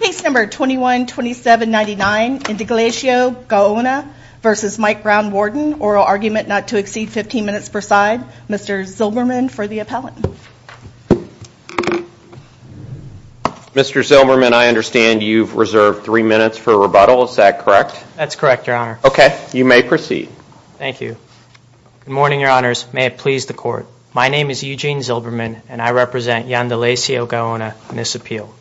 Case number 212799, Indalecio Gaona versus Mike Brown-Warden, oral argument not to exceed 15 minutes per side. Mr. Zilberman for the appellant. Mr. Zilberman, I understand you've reserved three minutes for rebuttal, is that correct? That's correct, your honor. Okay, you may proceed. Thank you. Good morning, your honors. May it please the court. My name is Eugene Zilberman and I represent Yndalecio Gaona in this appeal.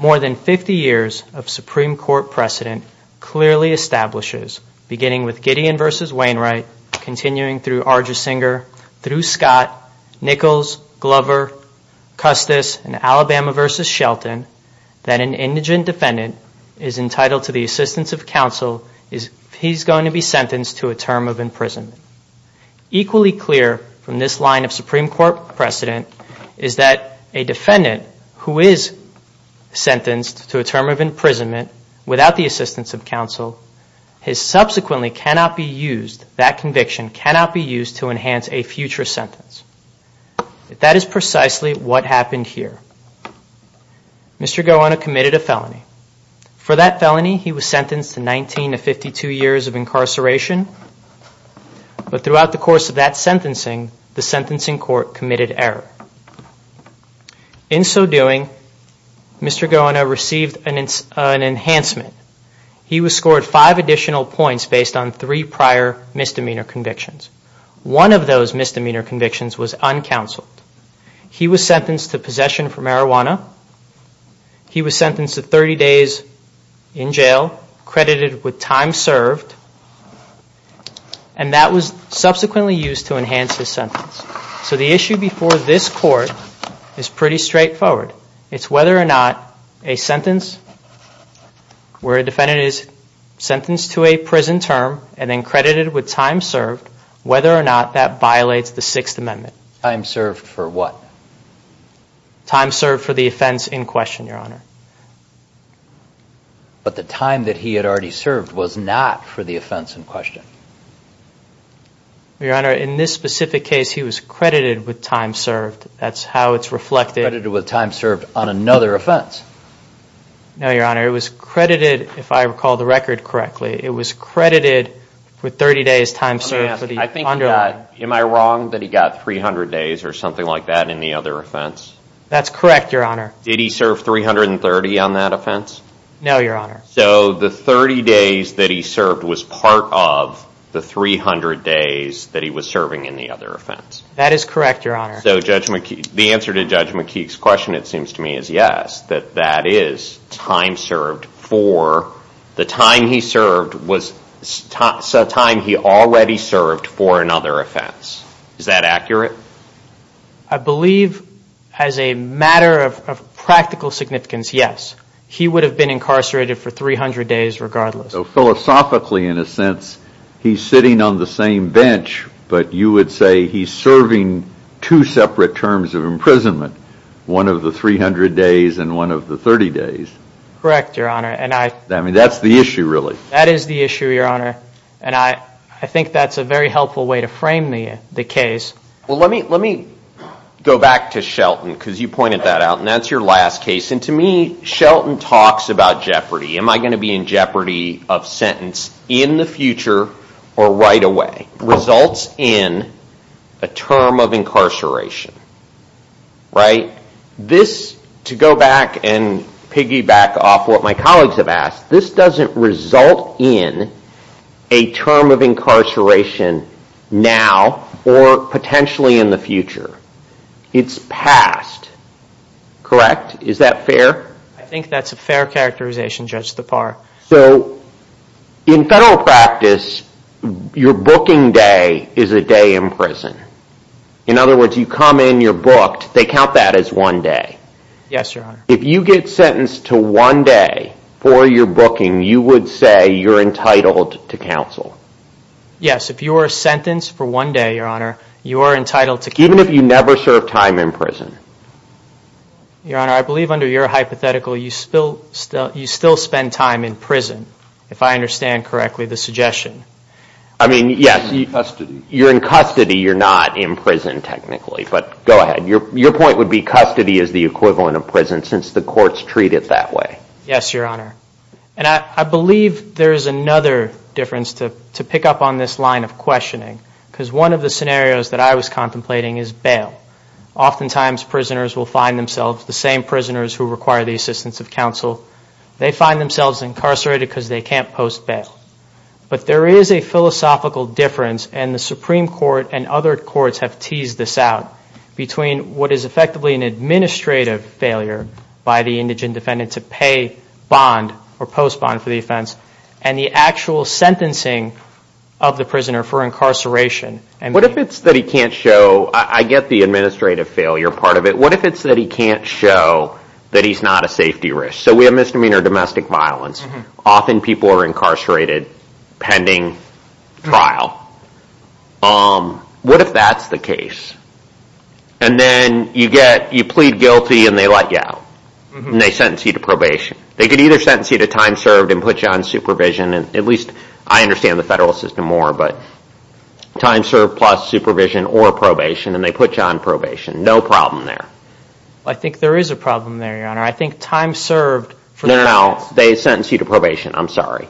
More than 50 years of Supreme Court precedent clearly establishes, beginning with Gideon versus Wainwright, continuing through Argesinger, through Scott, Nichols, Glover, Custis, and Alabama versus Shelton, that an indigent defendant is entitled to the assistance of counsel if he's going to be sentenced to a term of imprisonment. Equally clear from this line of Supreme Court precedent is that a defendant who is sentenced to a term of imprisonment without the assistance of counsel, his subsequently cannot be used, that conviction cannot be used to enhance a future sentence. That is precisely what happened here. For that felony, he was sentenced to 19 to 52 years of incarceration. But throughout the course of that sentencing, the sentencing court committed error. In so doing, Mr. Gaona received an enhancement. He was scored five additional points based on three prior misdemeanor convictions. One of those misdemeanor convictions was uncounseled. He was sentenced to possession for marijuana. He was sentenced to 30 days in jail, credited with time served. And that was subsequently used to enhance his sentence. So the issue before this court is pretty straightforward. It's whether or not a sentence where a defendant is sentenced to a prison term and then credited with time served, whether or not that violates the Sixth Amendment. Time served for what? Time served for the offense in question, Your Honor. But the time that he had already served was not for the offense in question. Your Honor, in this specific case, he was credited with time served. That's how it's reflected. Credited with time served on another offense. No, Your Honor. It was credited, if I recall the record correctly, it was credited with 30 days time served. Am I wrong that he got 300 days or something like that in the other offense? That's correct, Your Honor. Did he serve 330 on that offense? No, Your Honor. So the 30 days that he served was part of the 300 days that he was serving in the other offense. That is correct, Your Honor. So the answer to Judge McKeague's question, it seems to me, is yes. That that is time served for the time he served was time he already served for another offense. Is that accurate? I believe as a matter of practical significance, yes. He would have been incarcerated for 300 days regardless. So philosophically, in a sense, he's sitting on the same bench, but you would say he's serving two separate terms of imprisonment. One of the 300 days and one of the 30 days. Correct, Your Honor. I mean, that's the issue, really. That is the issue, Your Honor, and I think that's a very helpful way to frame the case. Well, let me go back to Shelton because you pointed that out, and that's your last case. To me, Shelton talks about jeopardy. Am I going to be in jeopardy of sentence in the future or right away? Results in a term of incarceration. Right? This, to go back and piggyback off what my colleagues have asked, this doesn't result in a term of incarceration now or potentially in the future. It's past. Correct? Is that fair? I think that's a fair characterization, Judge Tappar. So, in federal practice, your booking day is a day in prison. In other words, you come in, you're booked, they count that as one day. Yes, Your Honor. If you get sentenced to one day for your booking, you would say you're entitled to counsel. Yes, if you are sentenced for one day, Your Honor, you are entitled to counsel. Even if you never served time in prison? Your Honor, I believe under your hypothetical, you still spend time in prison, if I understand correctly the suggestion. I mean, yes. You're in custody. You're in custody. You're not in prison, technically. But go ahead. Your point would be custody is the equivalent of prison since the courts treat it that way. Yes, Your Honor. And I believe there is another difference to pick up on this line of questioning. Because one of the scenarios that I was contemplating is bail. Oftentimes, prisoners will find themselves, the same prisoners who require the assistance of counsel, they find themselves incarcerated because they can't post bail. But there is a philosophical difference, and the Supreme Court and other courts have teased this out, between what is effectively an administrative failure by the indigent defendant to pay bond, or post bond for the offense, and the actual sentencing of the prisoner for incarceration. What if it's that he can't show, I get the administrative failure part of it, what if it's that he can't show that he's not a safety risk? So we have misdemeanor domestic violence. Often people are incarcerated pending trial. What if that's the case? And then you plead guilty and they let you out. And they sentence you to probation. They could either sentence you to time served and put you on supervision, at least I understand the federal system more, but time served plus supervision or probation, and they put you on probation. No problem there. I think there is a problem there, Your Honor. I think time served for the offense. No, no, no. They sentence you to probation. I'm sorry.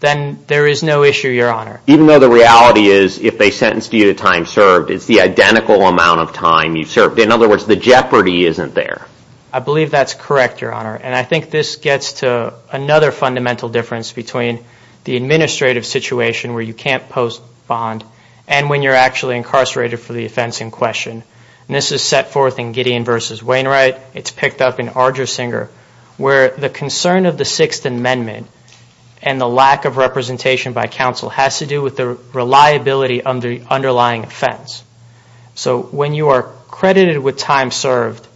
Then there is no issue, Your Honor. Even though the reality is, if they sentence you to time served, it's the identical amount of time you served. In other words, the jeopardy isn't there. I believe that's correct, Your Honor. And I think this gets to another fundamental difference between the administrative situation where you can't post bond and when you're actually incarcerated for the offense in question. And this is set forth in Gideon v. Wainwright. It's picked up in Argersinger where the concern of the Sixth Amendment and the lack of representation by counsel has to do with the reliability of the underlying offense. So when you are credited with time served,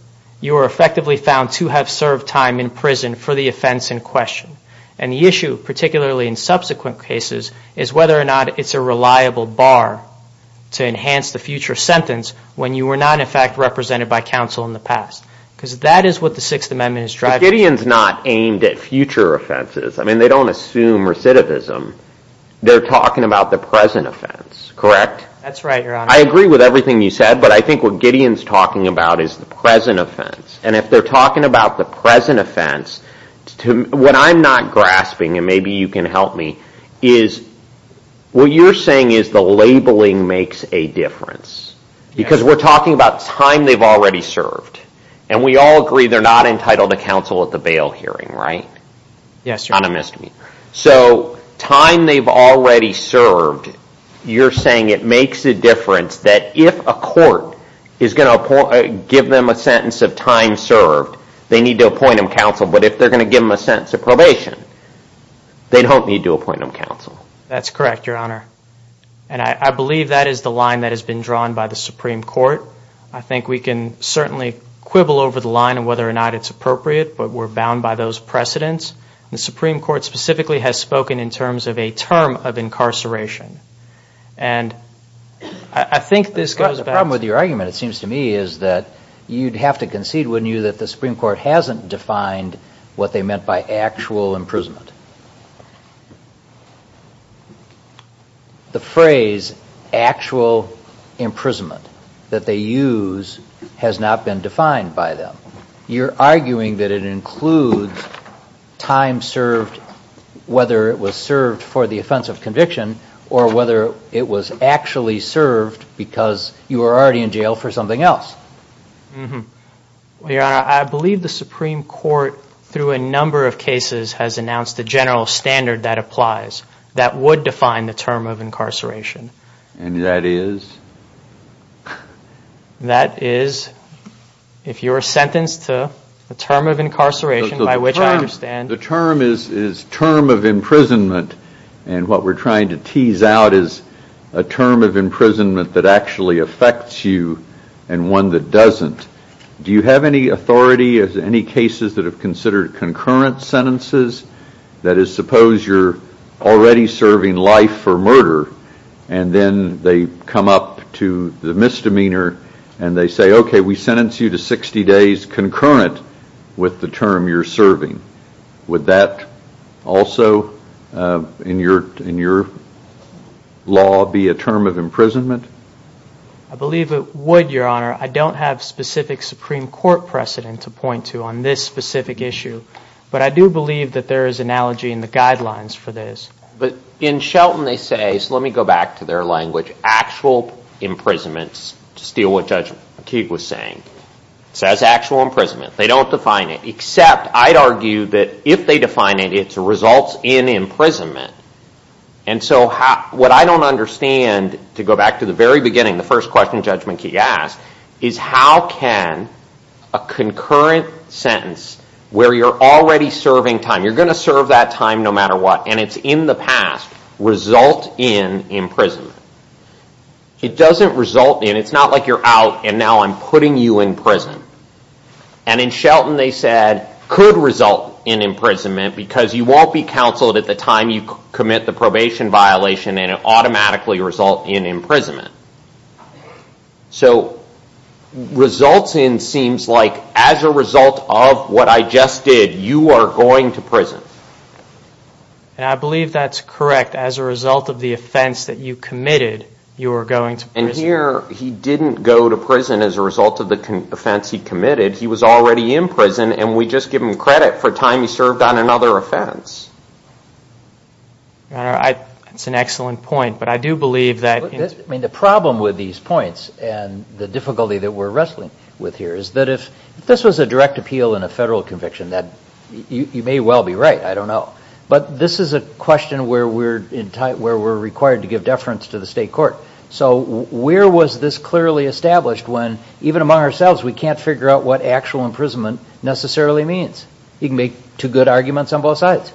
you are effectively found to have served time in prison for the offense in question. And the issue, particularly in subsequent cases, is whether or not it's a reliable bar to enhance the future sentence when you were not, in fact, represented by counsel in the past. Because that is what the Sixth Amendment is driving. But Gideon's not aimed at future offenses. I mean, they don't assume recidivism. They're talking about the present offense, correct? That's right, Your Honor. I agree with everything you said, but I think what Gideon's talking about is the present offense. And if they're talking about the present offense, what I'm not grasping, and maybe you can help me, is what you're saying is the labeling makes a difference. Because we're talking about time they've already served. And we all agree they're not entitled to counsel at the bail hearing, right? Yes, Your Honor. Kind of missed me. So time they've already served, you're saying it makes a difference that if a court is going to give them a sentence of time served, they need to appoint them counsel. But if they're going to give them a sentence of probation, they don't need to appoint them counsel. That's correct, Your Honor. And I believe that is the line that has been drawn by the Supreme Court. I think we can certainly quibble over the line on whether or not it's appropriate, but we're bound by those precedents. And the Supreme Court specifically has spoken in terms of a term of incarceration. And I think this goes back to... The problem with your argument, it seems to me, is that you'd have to concede, wouldn't you, that the Supreme Court hasn't defined what they meant by actual imprisonment. The phrase actual imprisonment that they use has not been defined by them. You're arguing that it includes time served, whether it was served for the offense of conviction, or whether it was actually served because you were already in jail for something else. Your Honor, I believe the Supreme Court, through a number of cases, has announced the general standard that applies, that would define the term of incarceration. And that is? That is... If you're sentenced to a term of incarceration, by which I understand... The term is term of imprisonment, and what we're trying to tease out is a term of imprisonment that actually affects you and one that doesn't. Do you have any authority as to any cases that have considered concurrent sentences? That is, suppose you're already serving life for murder, and then they come up to the misdemeanor, and they say, OK, we sentence you to 60 days concurrent with the term you're serving. Would that also, in your law, be a term of imprisonment? I believe it would, Your Honor. I don't have specific Supreme Court precedent to point to on this specific issue, but I do believe that there is analogy in the guidelines for this. But in Shelton, they say... So let me go back to their language. Actual imprisonments, to steal what Judge Keeg was saying. It says actual imprisonment. They don't define it, except I'd argue that if they define it, it results in imprisonment. And so what I don't understand, to go back to the very beginning, the first question Judge Keeg asked, is how can a concurrent sentence, where you're already serving time, you're going to serve that time no matter what, and it's in the past, result in imprisonment? It doesn't result in, it's not like you're out and now I'm putting you in prison. And in Shelton, they said, could result in imprisonment because you won't be counseled at the time you commit the probation violation and it'll automatically result in imprisonment. So results in seems like, as a result of what I just did, you are going to prison. And I believe that's correct. As a result of the offense that you committed, you are going to prison. And here, he didn't go to prison as a result of the offense he committed. He was already in prison and we just give him credit for time he served on another offense. That's an excellent point, but I do believe that... I mean, the problem with these points and the difficulty that we're wrestling with here is that if this was a direct appeal in a federal conviction, that you may well be right. I don't know. But this is a question where we're required to give deference to the state court. So where was this clearly established when even among ourselves, we can't figure out what actual imprisonment necessarily means? You can make two good arguments on both sides.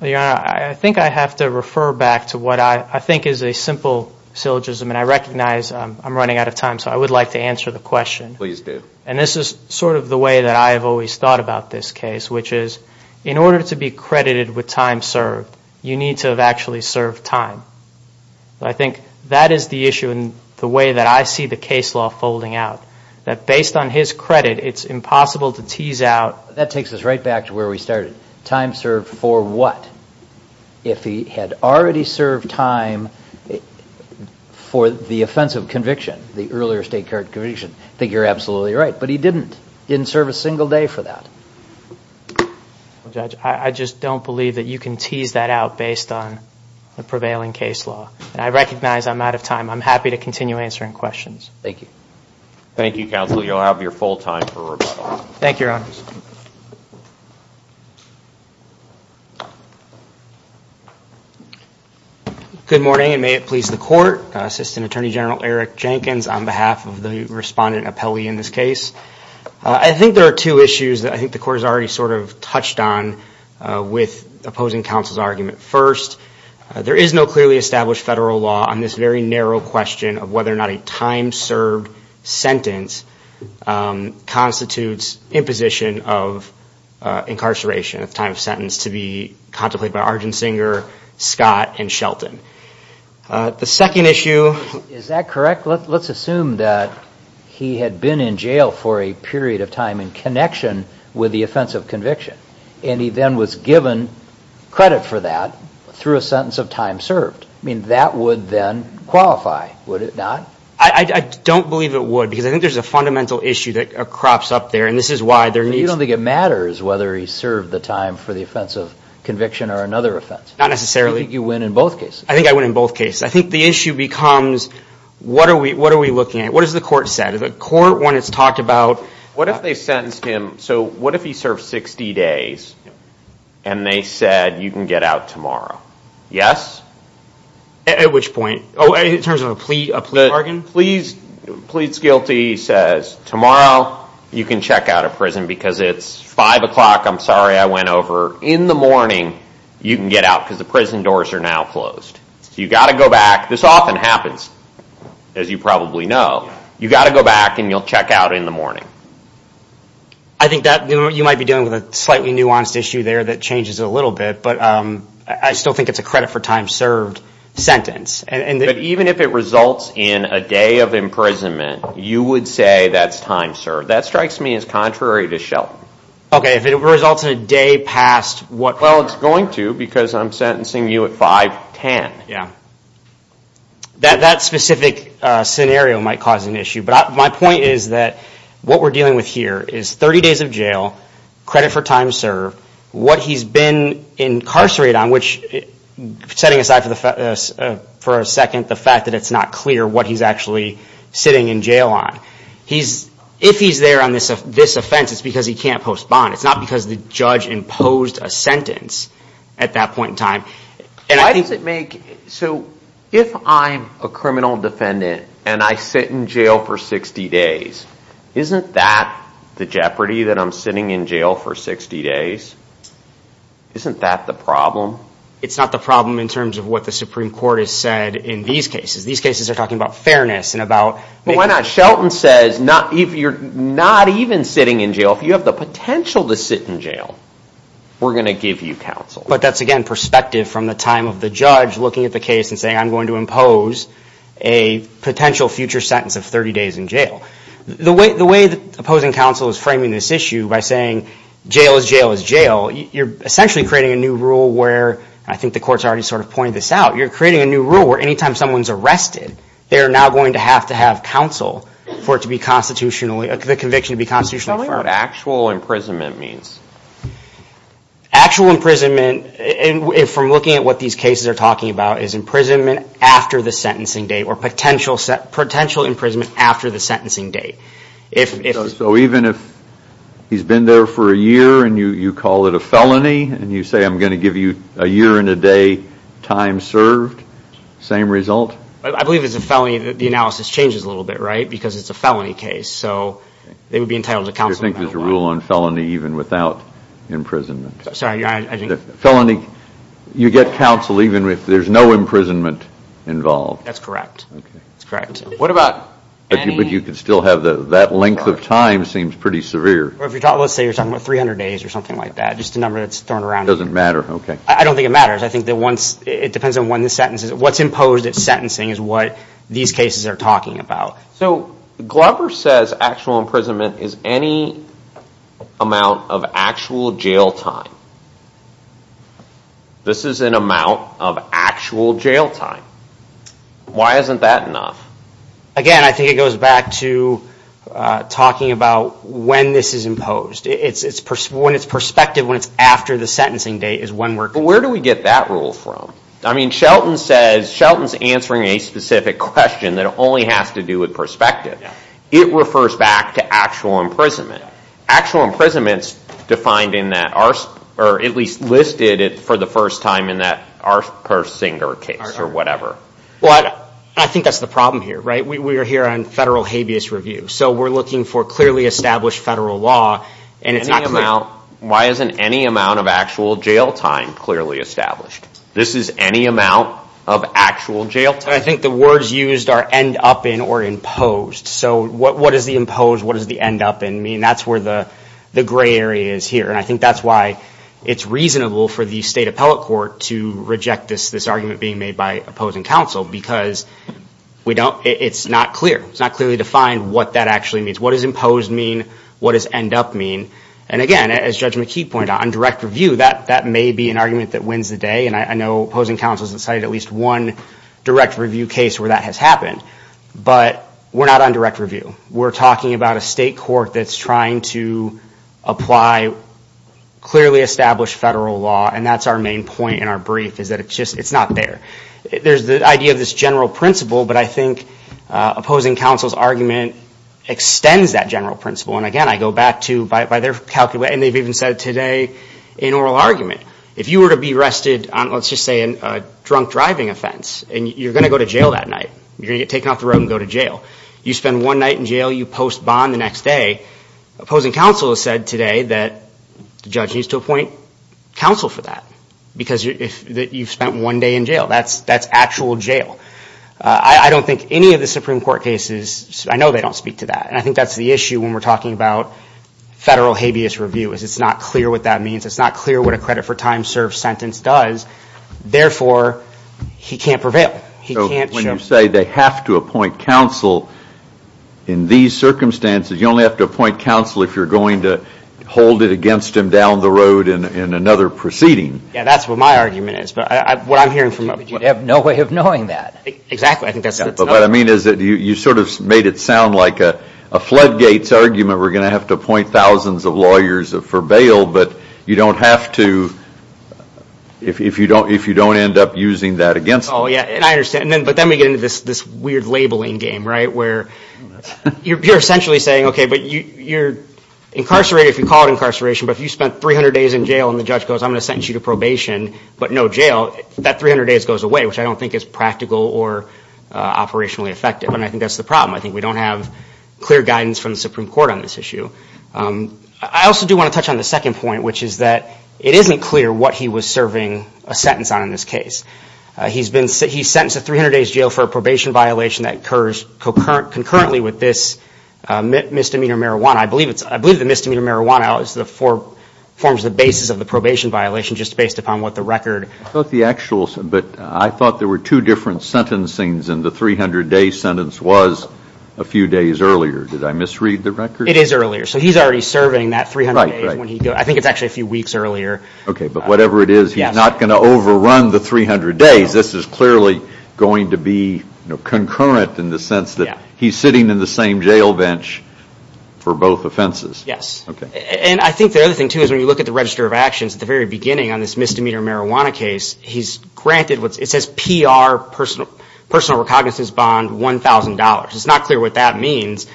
Your Honor, I think I have to refer back to what I think is a simple syllogism and I recognize I'm running out of time, so I would like to answer the question. Please do. And this is sort of the way that I have always thought about this case, which is in order to be credited with time served, you need to have actually served time. I think that is the issue in the way that I see the case law folding out, that based on his credit, it's impossible to tease out... That takes us right back to where we started. Time served for what? If he had already served time for the offensive conviction, the earlier state court conviction, I think you're absolutely right. But he didn't. He didn't serve a single day for that. Judge, I just don't believe that you can tease that out based on the prevailing case law. And I recognize I'm out of time. I'm happy to continue answering questions. Thank you. Thank you, counsel. You'll have your full time for rebuttal. Thank you, Your Honor. Good morning, and may it please the court. Assistant Attorney General Eric Jenkins on behalf of the respondent appellee in this case. I think there are two issues that I think the court has already sort of touched on with opposing counsel's argument. First, there is no clearly established federal law on this very narrow question of whether or not a time-served sentence constitutes imposition of incarceration at the time of sentence to be contemplated by Argent Singer, Scott, and Shelton. Is that correct? Let's assume that he had been in jail for a period of time in connection with the offense of conviction. And he then was given credit for that through a sentence of time served. I mean, that would then qualify, would it not? I don't believe it would, because I think there's a fundamental issue that crops up there, and this is why there needs... You don't think it matters whether he served the time for the offense of conviction or another offense? Not necessarily. You think you win in both cases? I think I win in both cases. I think the issue becomes, what are we looking at? What has the court said? The court, when it's talked about... What if they sentenced him... So what if he served 60 days, and they said, you can get out tomorrow? Yes? At which point? Oh, in terms of a plea bargain? Pleads guilty says, tomorrow, you can check out of prison, because it's 5 o'clock, I'm sorry I went over. In the morning, you can get out, because the prison doors are now closed. You've got to go back. This often happens, as you probably know. You've got to go back, and you'll check out in the morning. I think you might be dealing with a slightly nuanced issue there that changes it a little bit, but I still think it's a credit for time served sentence. But even if it results in a day of imprisonment, you would say that's time served. That strikes me as contrary to Shelton. Okay, if it results in a day past what... Well, it's going to, because I'm sentencing you at 5.10. Okay, yeah. That specific scenario might cause an issue. But my point is that what we're dealing with here is 30 days of jail, credit for time served, what he's been incarcerated on, which, setting aside for a second the fact that it's not clear what he's actually sitting in jail on. If he's there on this offense, it's because he can't postpone. It's not because the judge imposed a sentence at that point in time. Why does it make... So if I'm a criminal defendant and I sit in jail for 60 days, isn't that the jeopardy that I'm sitting in jail for 60 days? Isn't that the problem? It's not the problem in terms of what the Supreme Court has said in these cases. These cases are talking about fairness and about... Well, why not? Shelton says if you're not even sitting in jail, if you have the potential to sit in jail, we're going to give you counsel. But that's, again, perspective from the time of the judge looking at the case and saying, I'm going to impose a potential future sentence of 30 days in jail. The way the opposing counsel is framing this issue by saying jail is jail is jail, you're essentially creating a new rule where... I think the court's already sort of pointed this out. You're creating a new rule where any time someone's arrested, they're now going to have to have counsel for it to be constitutionally... the conviction to be constitutionally firm. Tell me what actual imprisonment means. Actual imprisonment, from looking at what these cases are talking about, is imprisonment after the sentencing date or potential imprisonment after the sentencing date. So even if he's been there for a year and you call it a felony and you say I'm going to give you a year and a day time served, same result? I believe it's a felony. The analysis changes a little bit, right? Because it's a felony case. So they would be entitled to counsel. I don't think there's a rule on felony even without imprisonment. Sorry, Your Honor, I didn't... Felony... You get counsel even if there's no imprisonment involved. That's correct. Okay. That's correct. What about... But you could still have... That length of time seems pretty severe. Let's say you're talking about 300 days or something like that, just the number that's thrown around. It doesn't matter, okay. I don't think it matters. I think that once... It depends on when the sentence is... What's imposed at sentencing is what these cases are talking about. So Glover says actual imprisonment is any amount of actual jail time. This is an amount of actual jail time. Why isn't that enough? Again, I think it goes back to talking about when this is imposed. When it's prospective, when it's after the sentencing date is when we're... But where do we get that rule from? I mean, Shelton says... Shelton's answering a specific question that only has to do with prospective. It refers back to actual imprisonment. Actual imprisonment's defined in that... Or at least listed it for the first time in that Ars Persinger case or whatever. Well, I think that's the problem here, right? We are here on federal habeas review. So we're looking for clearly established federal law, and it's not clear... Any amount... Why isn't any amount of actual jail time clearly established? This is any amount of actual jail time. I think the words used are end up in or imposed. So what does the imposed, what does the end up in mean? That's where the gray area is here. And I think that's why it's reasonable for the state appellate court to reject this argument being made by opposing counsel, because we don't... It's not clear. It's not clearly defined what that actually means. What does imposed mean? What does end up mean? And again, as Judge McKee pointed out, on direct review, that may be an argument that wins the day. And I know opposing counsel has cited at least one direct review case where that has happened. But we're not on direct review. We're talking about a state court that's trying to apply clearly established federal law, and that's our main point in our brief, is that it's just... It's not there. There's the idea of this general principle, but I think opposing counsel's argument extends that general principle. And again, I go back to... And they've even said it today in oral argument. If you were to be arrested on, let's just say, a drunk driving offense, and you're going to go to jail that night, you're going to get taken off the road and go to jail. You spend one night in jail, you post bond the next day. Opposing counsel has said today that the judge needs to appoint counsel for that, because you've spent one day in jail. That's actual jail. I don't think any of the Supreme Court cases... I know they don't speak to that, and I think that's the issue when we're talking about federal habeas review, is it's not clear what that means. It's not clear what a time-served sentence does. Therefore, he can't prevail. He can't show... So when you say they have to appoint counsel in these circumstances, you only have to appoint counsel if you're going to hold it against him down the road in another proceeding. Yeah, that's what my argument is. But what I'm hearing from... You have no way of knowing that. Exactly. What I mean is that you sort of made it sound like a floodgates argument. We're going to have to appoint thousands of lawyers for bail, but you don't have to... if you don't end up using that against him. Oh, yeah, and I understand. But then we get into this weird labeling game, right, where you're essentially saying, okay, but you're incarcerated if you call it incarceration, but if you spent 300 days in jail and the judge goes, I'm going to sentence you to probation but no jail, that 300 days goes away, which I don't think is practical or operationally effective, and I think that's the problem. I think we don't have clear guidance from the Supreme Court on this issue. I also do want to touch on the second point, which is that it isn't clear what he was serving a sentence on in this case. He's sentenced to 300 days jail for a probation violation that occurs concurrently with this misdemeanor marijuana. I believe the misdemeanor marijuana forms the basis of the probation violation, just based upon what the record... But I thought there were two different sentencings and the 300-day sentence was a few days earlier. Did I misread the record? It is earlier. So he's already serving that 300 days. I think it's actually a few weeks earlier. Okay, but whatever it is, he's not going to overrun the 300 days. This is clearly going to be concurrent in the sense that he's sitting in the same jail bench for both offenses. Yes. And I think the other thing too is when you look at the register of actions at the very beginning on this misdemeanor marijuana case, he's granted what's... It says PR, personal recognizance bond, $1,000. It's not clear what that means.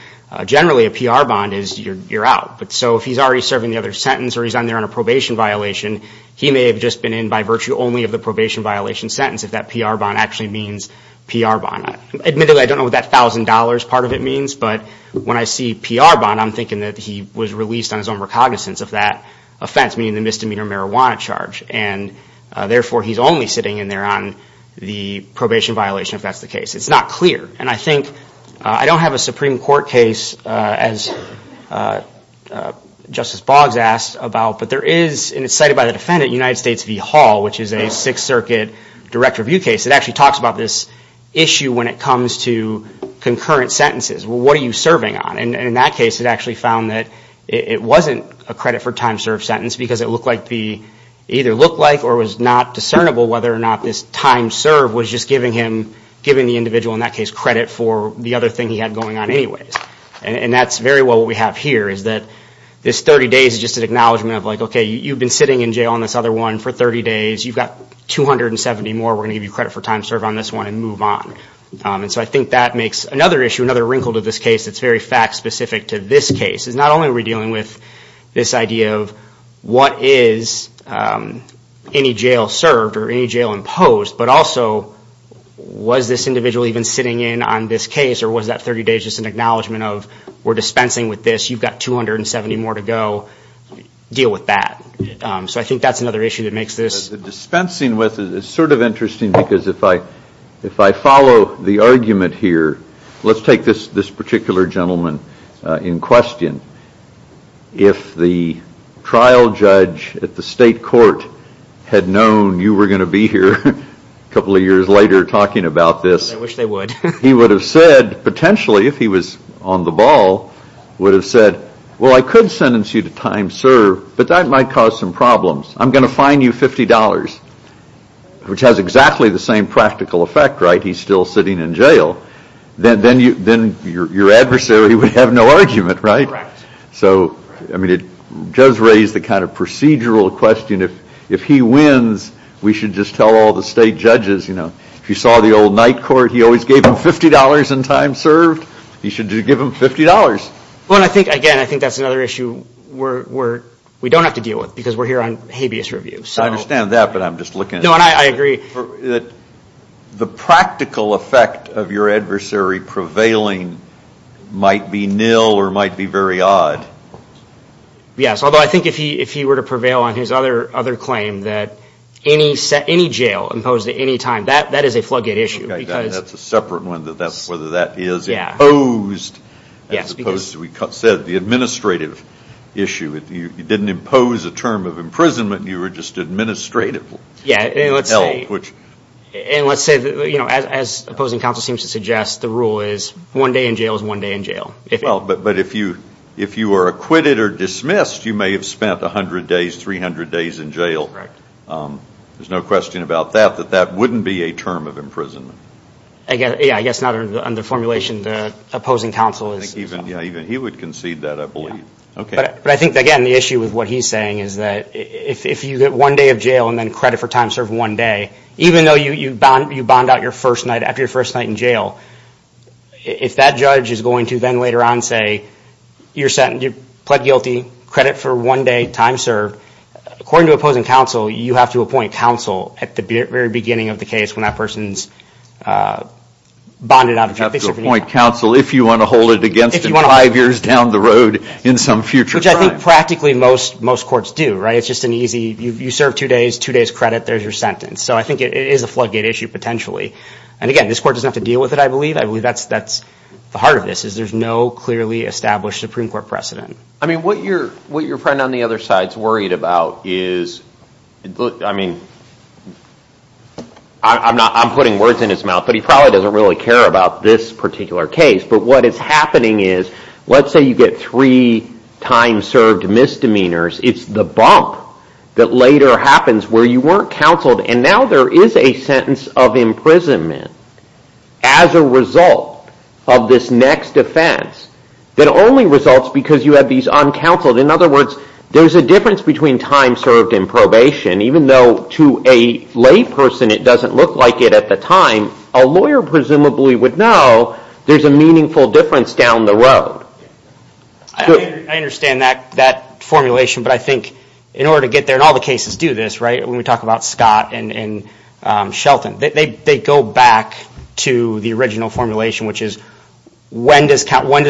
Generally, a PR bond is you're out. So if he's already serving the other sentence or he's on there on a probation violation, he may have just been in by virtue only of the probation violation sentence if that PR bond actually means PR bond. Admittedly, I don't know what that $1,000 part of it means, but when I see PR bond, I'm thinking that he was released on his own recognizance of that offense, meaning the misdemeanor marijuana charge. And therefore, he's only sitting in there on the probation violation if that's the case. It's not clear. And I think... I don't have a Supreme Court case, as Justice Boggs asked about, but there is... And it's cited by the defendant, United States v. Hall, which is a Sixth Circuit direct review case. It actually talks about this issue when it comes to concurrent sentences. What are you serving on? And in that case, it actually found that it wasn't a credit for time served sentence because it looked like the... It either looked like or was not discernible whether or not this time served was just giving him... A credit for the other thing he had going on anyways. And that's very well what we have here, is that this 30 days is just an acknowledgment of, like, okay, you've been sitting in jail on this other one for 30 days. You've got 270 more. We're gonna give you credit for time served on this one and move on. And so I think that makes another issue, another wrinkle to this case, that's very fact-specific to this case, is not only are we dealing with this idea of what is any jail served or any jail imposed, but also was this individual even sitting in on this case or was that 30 days just an acknowledgment of, we're dispensing with this. You've got 270 more to go. Deal with that. So I think that's another issue that makes this... Dispensing with it is sort of interesting because if I follow the argument here... Let's take this particular gentleman in question. If the trial judge at the state court had known you were gonna be here, a couple of years later, talking about this... I wish they would. He would have said, potentially, if he was on the ball, would have said, well, I could sentence you to time served, but that might cause some problems. I'm gonna fine you $50, which has exactly the same practical effect, right? He's still sitting in jail. Then your adversary would have no argument, right? Correct. So, I mean, it does raise the kind of procedural question. If he wins, we should just tell all the state judges, if you saw the old night court, he always gave them $50 in time served. He should give them $50. Well, and I think, again, I think that's another issue we don't have to deal with because we're here on habeas review. I understand that, but I'm just looking... No, and I agree. The practical effect of your adversary prevailing might be nil or might be very odd. Yes, although I think if he were to prevail on his other claim that any jail imposed at any time, that is a floodgate issue because... That's a separate one, whether that is imposed as opposed to, we said, the administrative issue. You didn't impose a term of imprisonment. You were just administratively held, which... Yeah, and let's say, you know, as opposing counsel seems to suggest, the rule is one day in jail is one day in jail. Well, but if you are acquitted or dismissed, you may have spent 100 days, 300 days in jail. There's no question about that, that that wouldn't be a term of imprisonment. Yeah, I guess not under formulation. The opposing counsel is... Yeah, even he would concede that, I believe. But I think, again, the issue with what he's saying is that if you get one day of jail and then credit for time served one day, even though you bond out your first night, after your first night in jail, if that judge is going to then later on say, you pled guilty, credit for one day, time served, according to opposing counsel, you have to appoint counsel at the very beginning of the case when that person's bonded out of jail. You have to appoint counsel if you want to hold it against them five years down the road in some future time. Which I think practically most courts do, right? It's just an easy, you serve two days, two days credit, there's your sentence. So I think it is a floodgate issue, potentially. And again, this court doesn't have to deal with it, I believe. I believe that's the heart of this, is there's no clearly established Supreme Court precedent. I mean, what your friend on the other side's worried about is... I'm putting words in his mouth, but he probably doesn't really care about this particular case. But what is happening is, let's say you get three time served misdemeanors, it's the bump that later happens where you weren't counseled, and now there is a sentence of imprisonment as a result of this next offense that only results because you had these uncounseled. In other words, there's a difference between time served and probation. Even though to a layperson it doesn't look like it at the time, a lawyer presumably would know there's a meaningful difference down the road. I understand that formulation, but I think in order to get there, and all the cases do this, right? When we talk about Scott and Shelton. They go back to the original formulation, which is, when does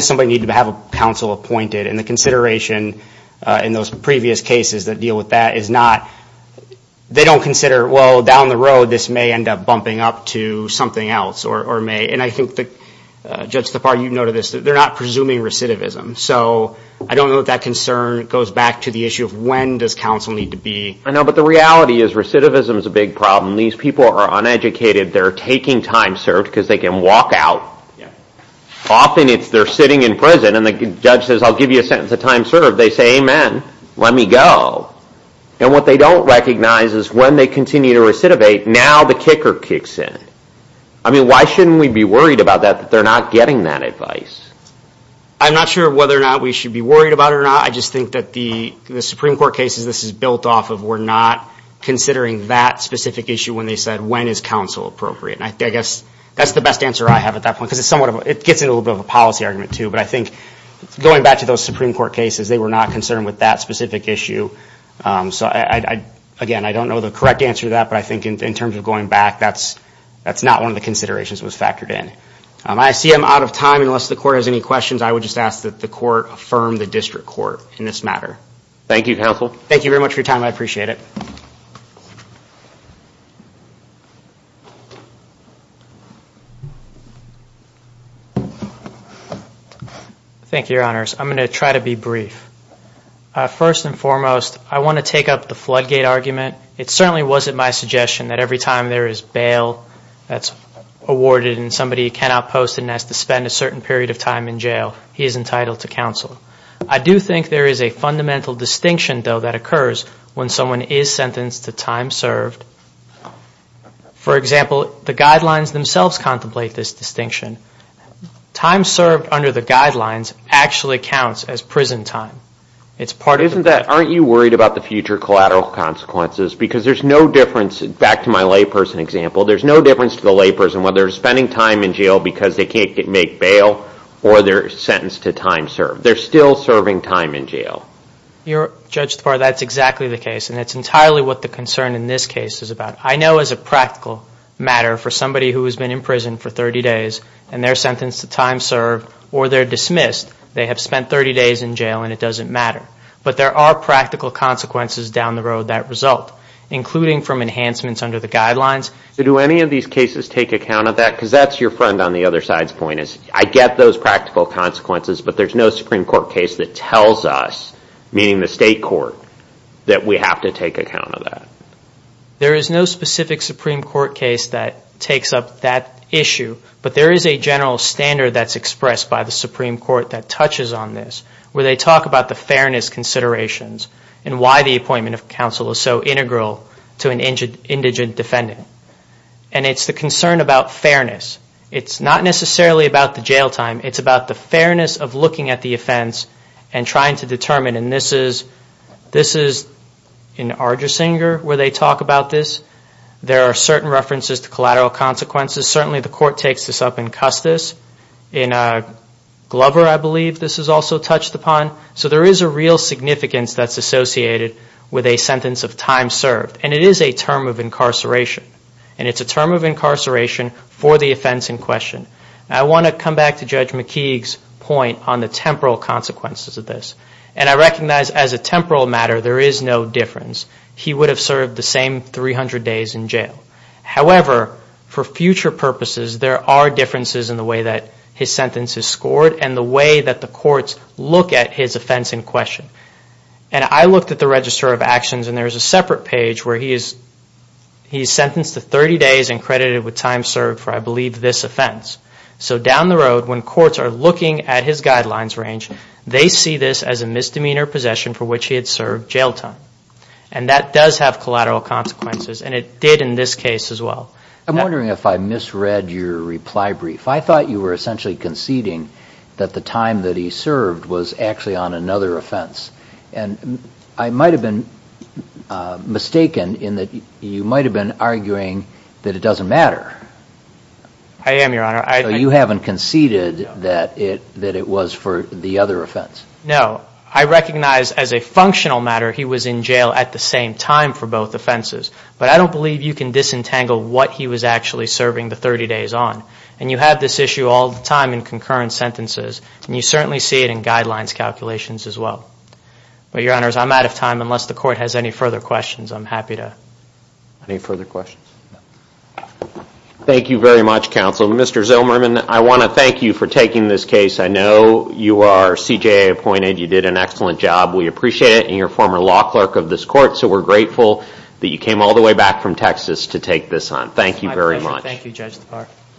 somebody need to have a counsel appointed? And the consideration in those previous cases that deal with that is not... They don't consider, well, down the road, this may end up bumping up to something else, or may. And I think, Judge Tapar, you noted this, that they're not presuming recidivism. So I don't know if that concern goes back to the issue of when does counsel need to be... I know, but the reality is recidivism is a big problem. When these people are uneducated, they're taking time served because they can walk out. Often it's they're sitting in prison and the judge says, I'll give you a sentence of time served. They say, amen, let me go. And what they don't recognize is when they continue to recidivate, now the kicker kicks in. I mean, why shouldn't we be worried about that, that they're not getting that advice? I'm not sure whether or not we should be worried about it or not. I just think that the Supreme Court cases, this is built off of we're not considering that specific issue when they said, when is counsel appropriate? And I guess that's the best answer I have at that point, because it gets into a little bit of a policy argument too. But I think going back to those Supreme Court cases, they were not concerned with that specific issue. So again, I don't know the correct answer to that, but I think in terms of going back, that's not one of the considerations that was factored in. I see I'm out of time. Unless the court has any questions, I would just ask that the court affirm the district court in this matter. Thank you, counsel. Thank you very much for your time. I appreciate it. Thank you, your honors. I'm going to try to be brief. First and foremost, I want to take up the floodgate argument. It certainly wasn't my suggestion that every time there is bail that's awarded and somebody cannot post and has to spend a certain period of time in jail, he is entitled to counsel. I do think there is a fundamental distinction, though, that occurs when someone is sentenced to time served. For example, the guidelines themselves contemplate this distinction. Time served under the guidelines actually counts as prison time. Aren't you worried about the future collateral consequences? Because there's no difference, back to my layperson example, because they can't make bail or they're sentenced to time served. They're still serving time in jail. Judge Tafari, that's exactly the case. That's entirely what the concern in this case is about. I know as a practical matter for somebody who has been in prison for 30 days and they're sentenced to time served or they're dismissed, they have spent 30 days in jail and it doesn't matter. But there are practical consequences down the road that result, including from enhancements under the guidelines. Do any of these cases take account of that? Because that's your friend on the other side's point. I get those practical consequences, but there's no Supreme Court case that tells us, meaning the state court, that we have to take account of that. There is no specific Supreme Court case that takes up that issue, but there is a general standard that's expressed by the Supreme Court that touches on this, where they talk about the fairness considerations and why the appointment of counsel is so integral to an indigent defendant. And it's the concern about fairness. It's not necessarily about the jail time. It's about the fairness of looking at the offense and trying to determine. And this is in Argersinger where they talk about this. There are certain references to collateral consequences. Certainly the court takes this up in Custis. In Glover, I believe, this is also touched upon. So there is a real significance that's associated with a sentence of time served. And it is a term of incarceration. And it's a term of incarceration for the offense in question. I want to come back to Judge McKeague's point on the temporal consequences of this. And I recognize as a temporal matter, there is no difference. He would have served the same 300 days in jail. However, for future purposes, there are differences in the way that his sentence is scored and the way that the courts look at his offense in question. And I looked at the Register of Actions and there is a separate page where he is sentenced to 30 days and credited with time served for, I believe, this offense. So down the road, when courts are looking at his guidelines range, they see this as a misdemeanor possession for which he had served jail time. And that does have collateral consequences. And it did in this case as well. I'm wondering if I misread your reply brief. I thought you were essentially conceding that the time that he served was actually on another offense. And I might have been mistaken in that you might have been arguing that it doesn't matter. I am, Your Honor. So you haven't conceded that it was for the other offense. No. I recognize as a functional matter, he was in jail at the same time for both offenses. But I don't believe you can disentangle what he was actually serving the 30 days on. And you have this issue all the time in concurrent sentences. And you certainly see it in guidelines calculations as well. But, Your Honors, I'm out of time. Unless the court has any further questions, I'm happy to. Any further questions? No. Thank you very much, Counsel. Mr. Zellmerman, I want to thank you for taking this case. I know you are CJA appointed. You did an excellent job. We appreciate it. And you're a former law clerk of this court. So we're grateful that you came all the way back from Texas to take this on. Thank you very much. My pleasure.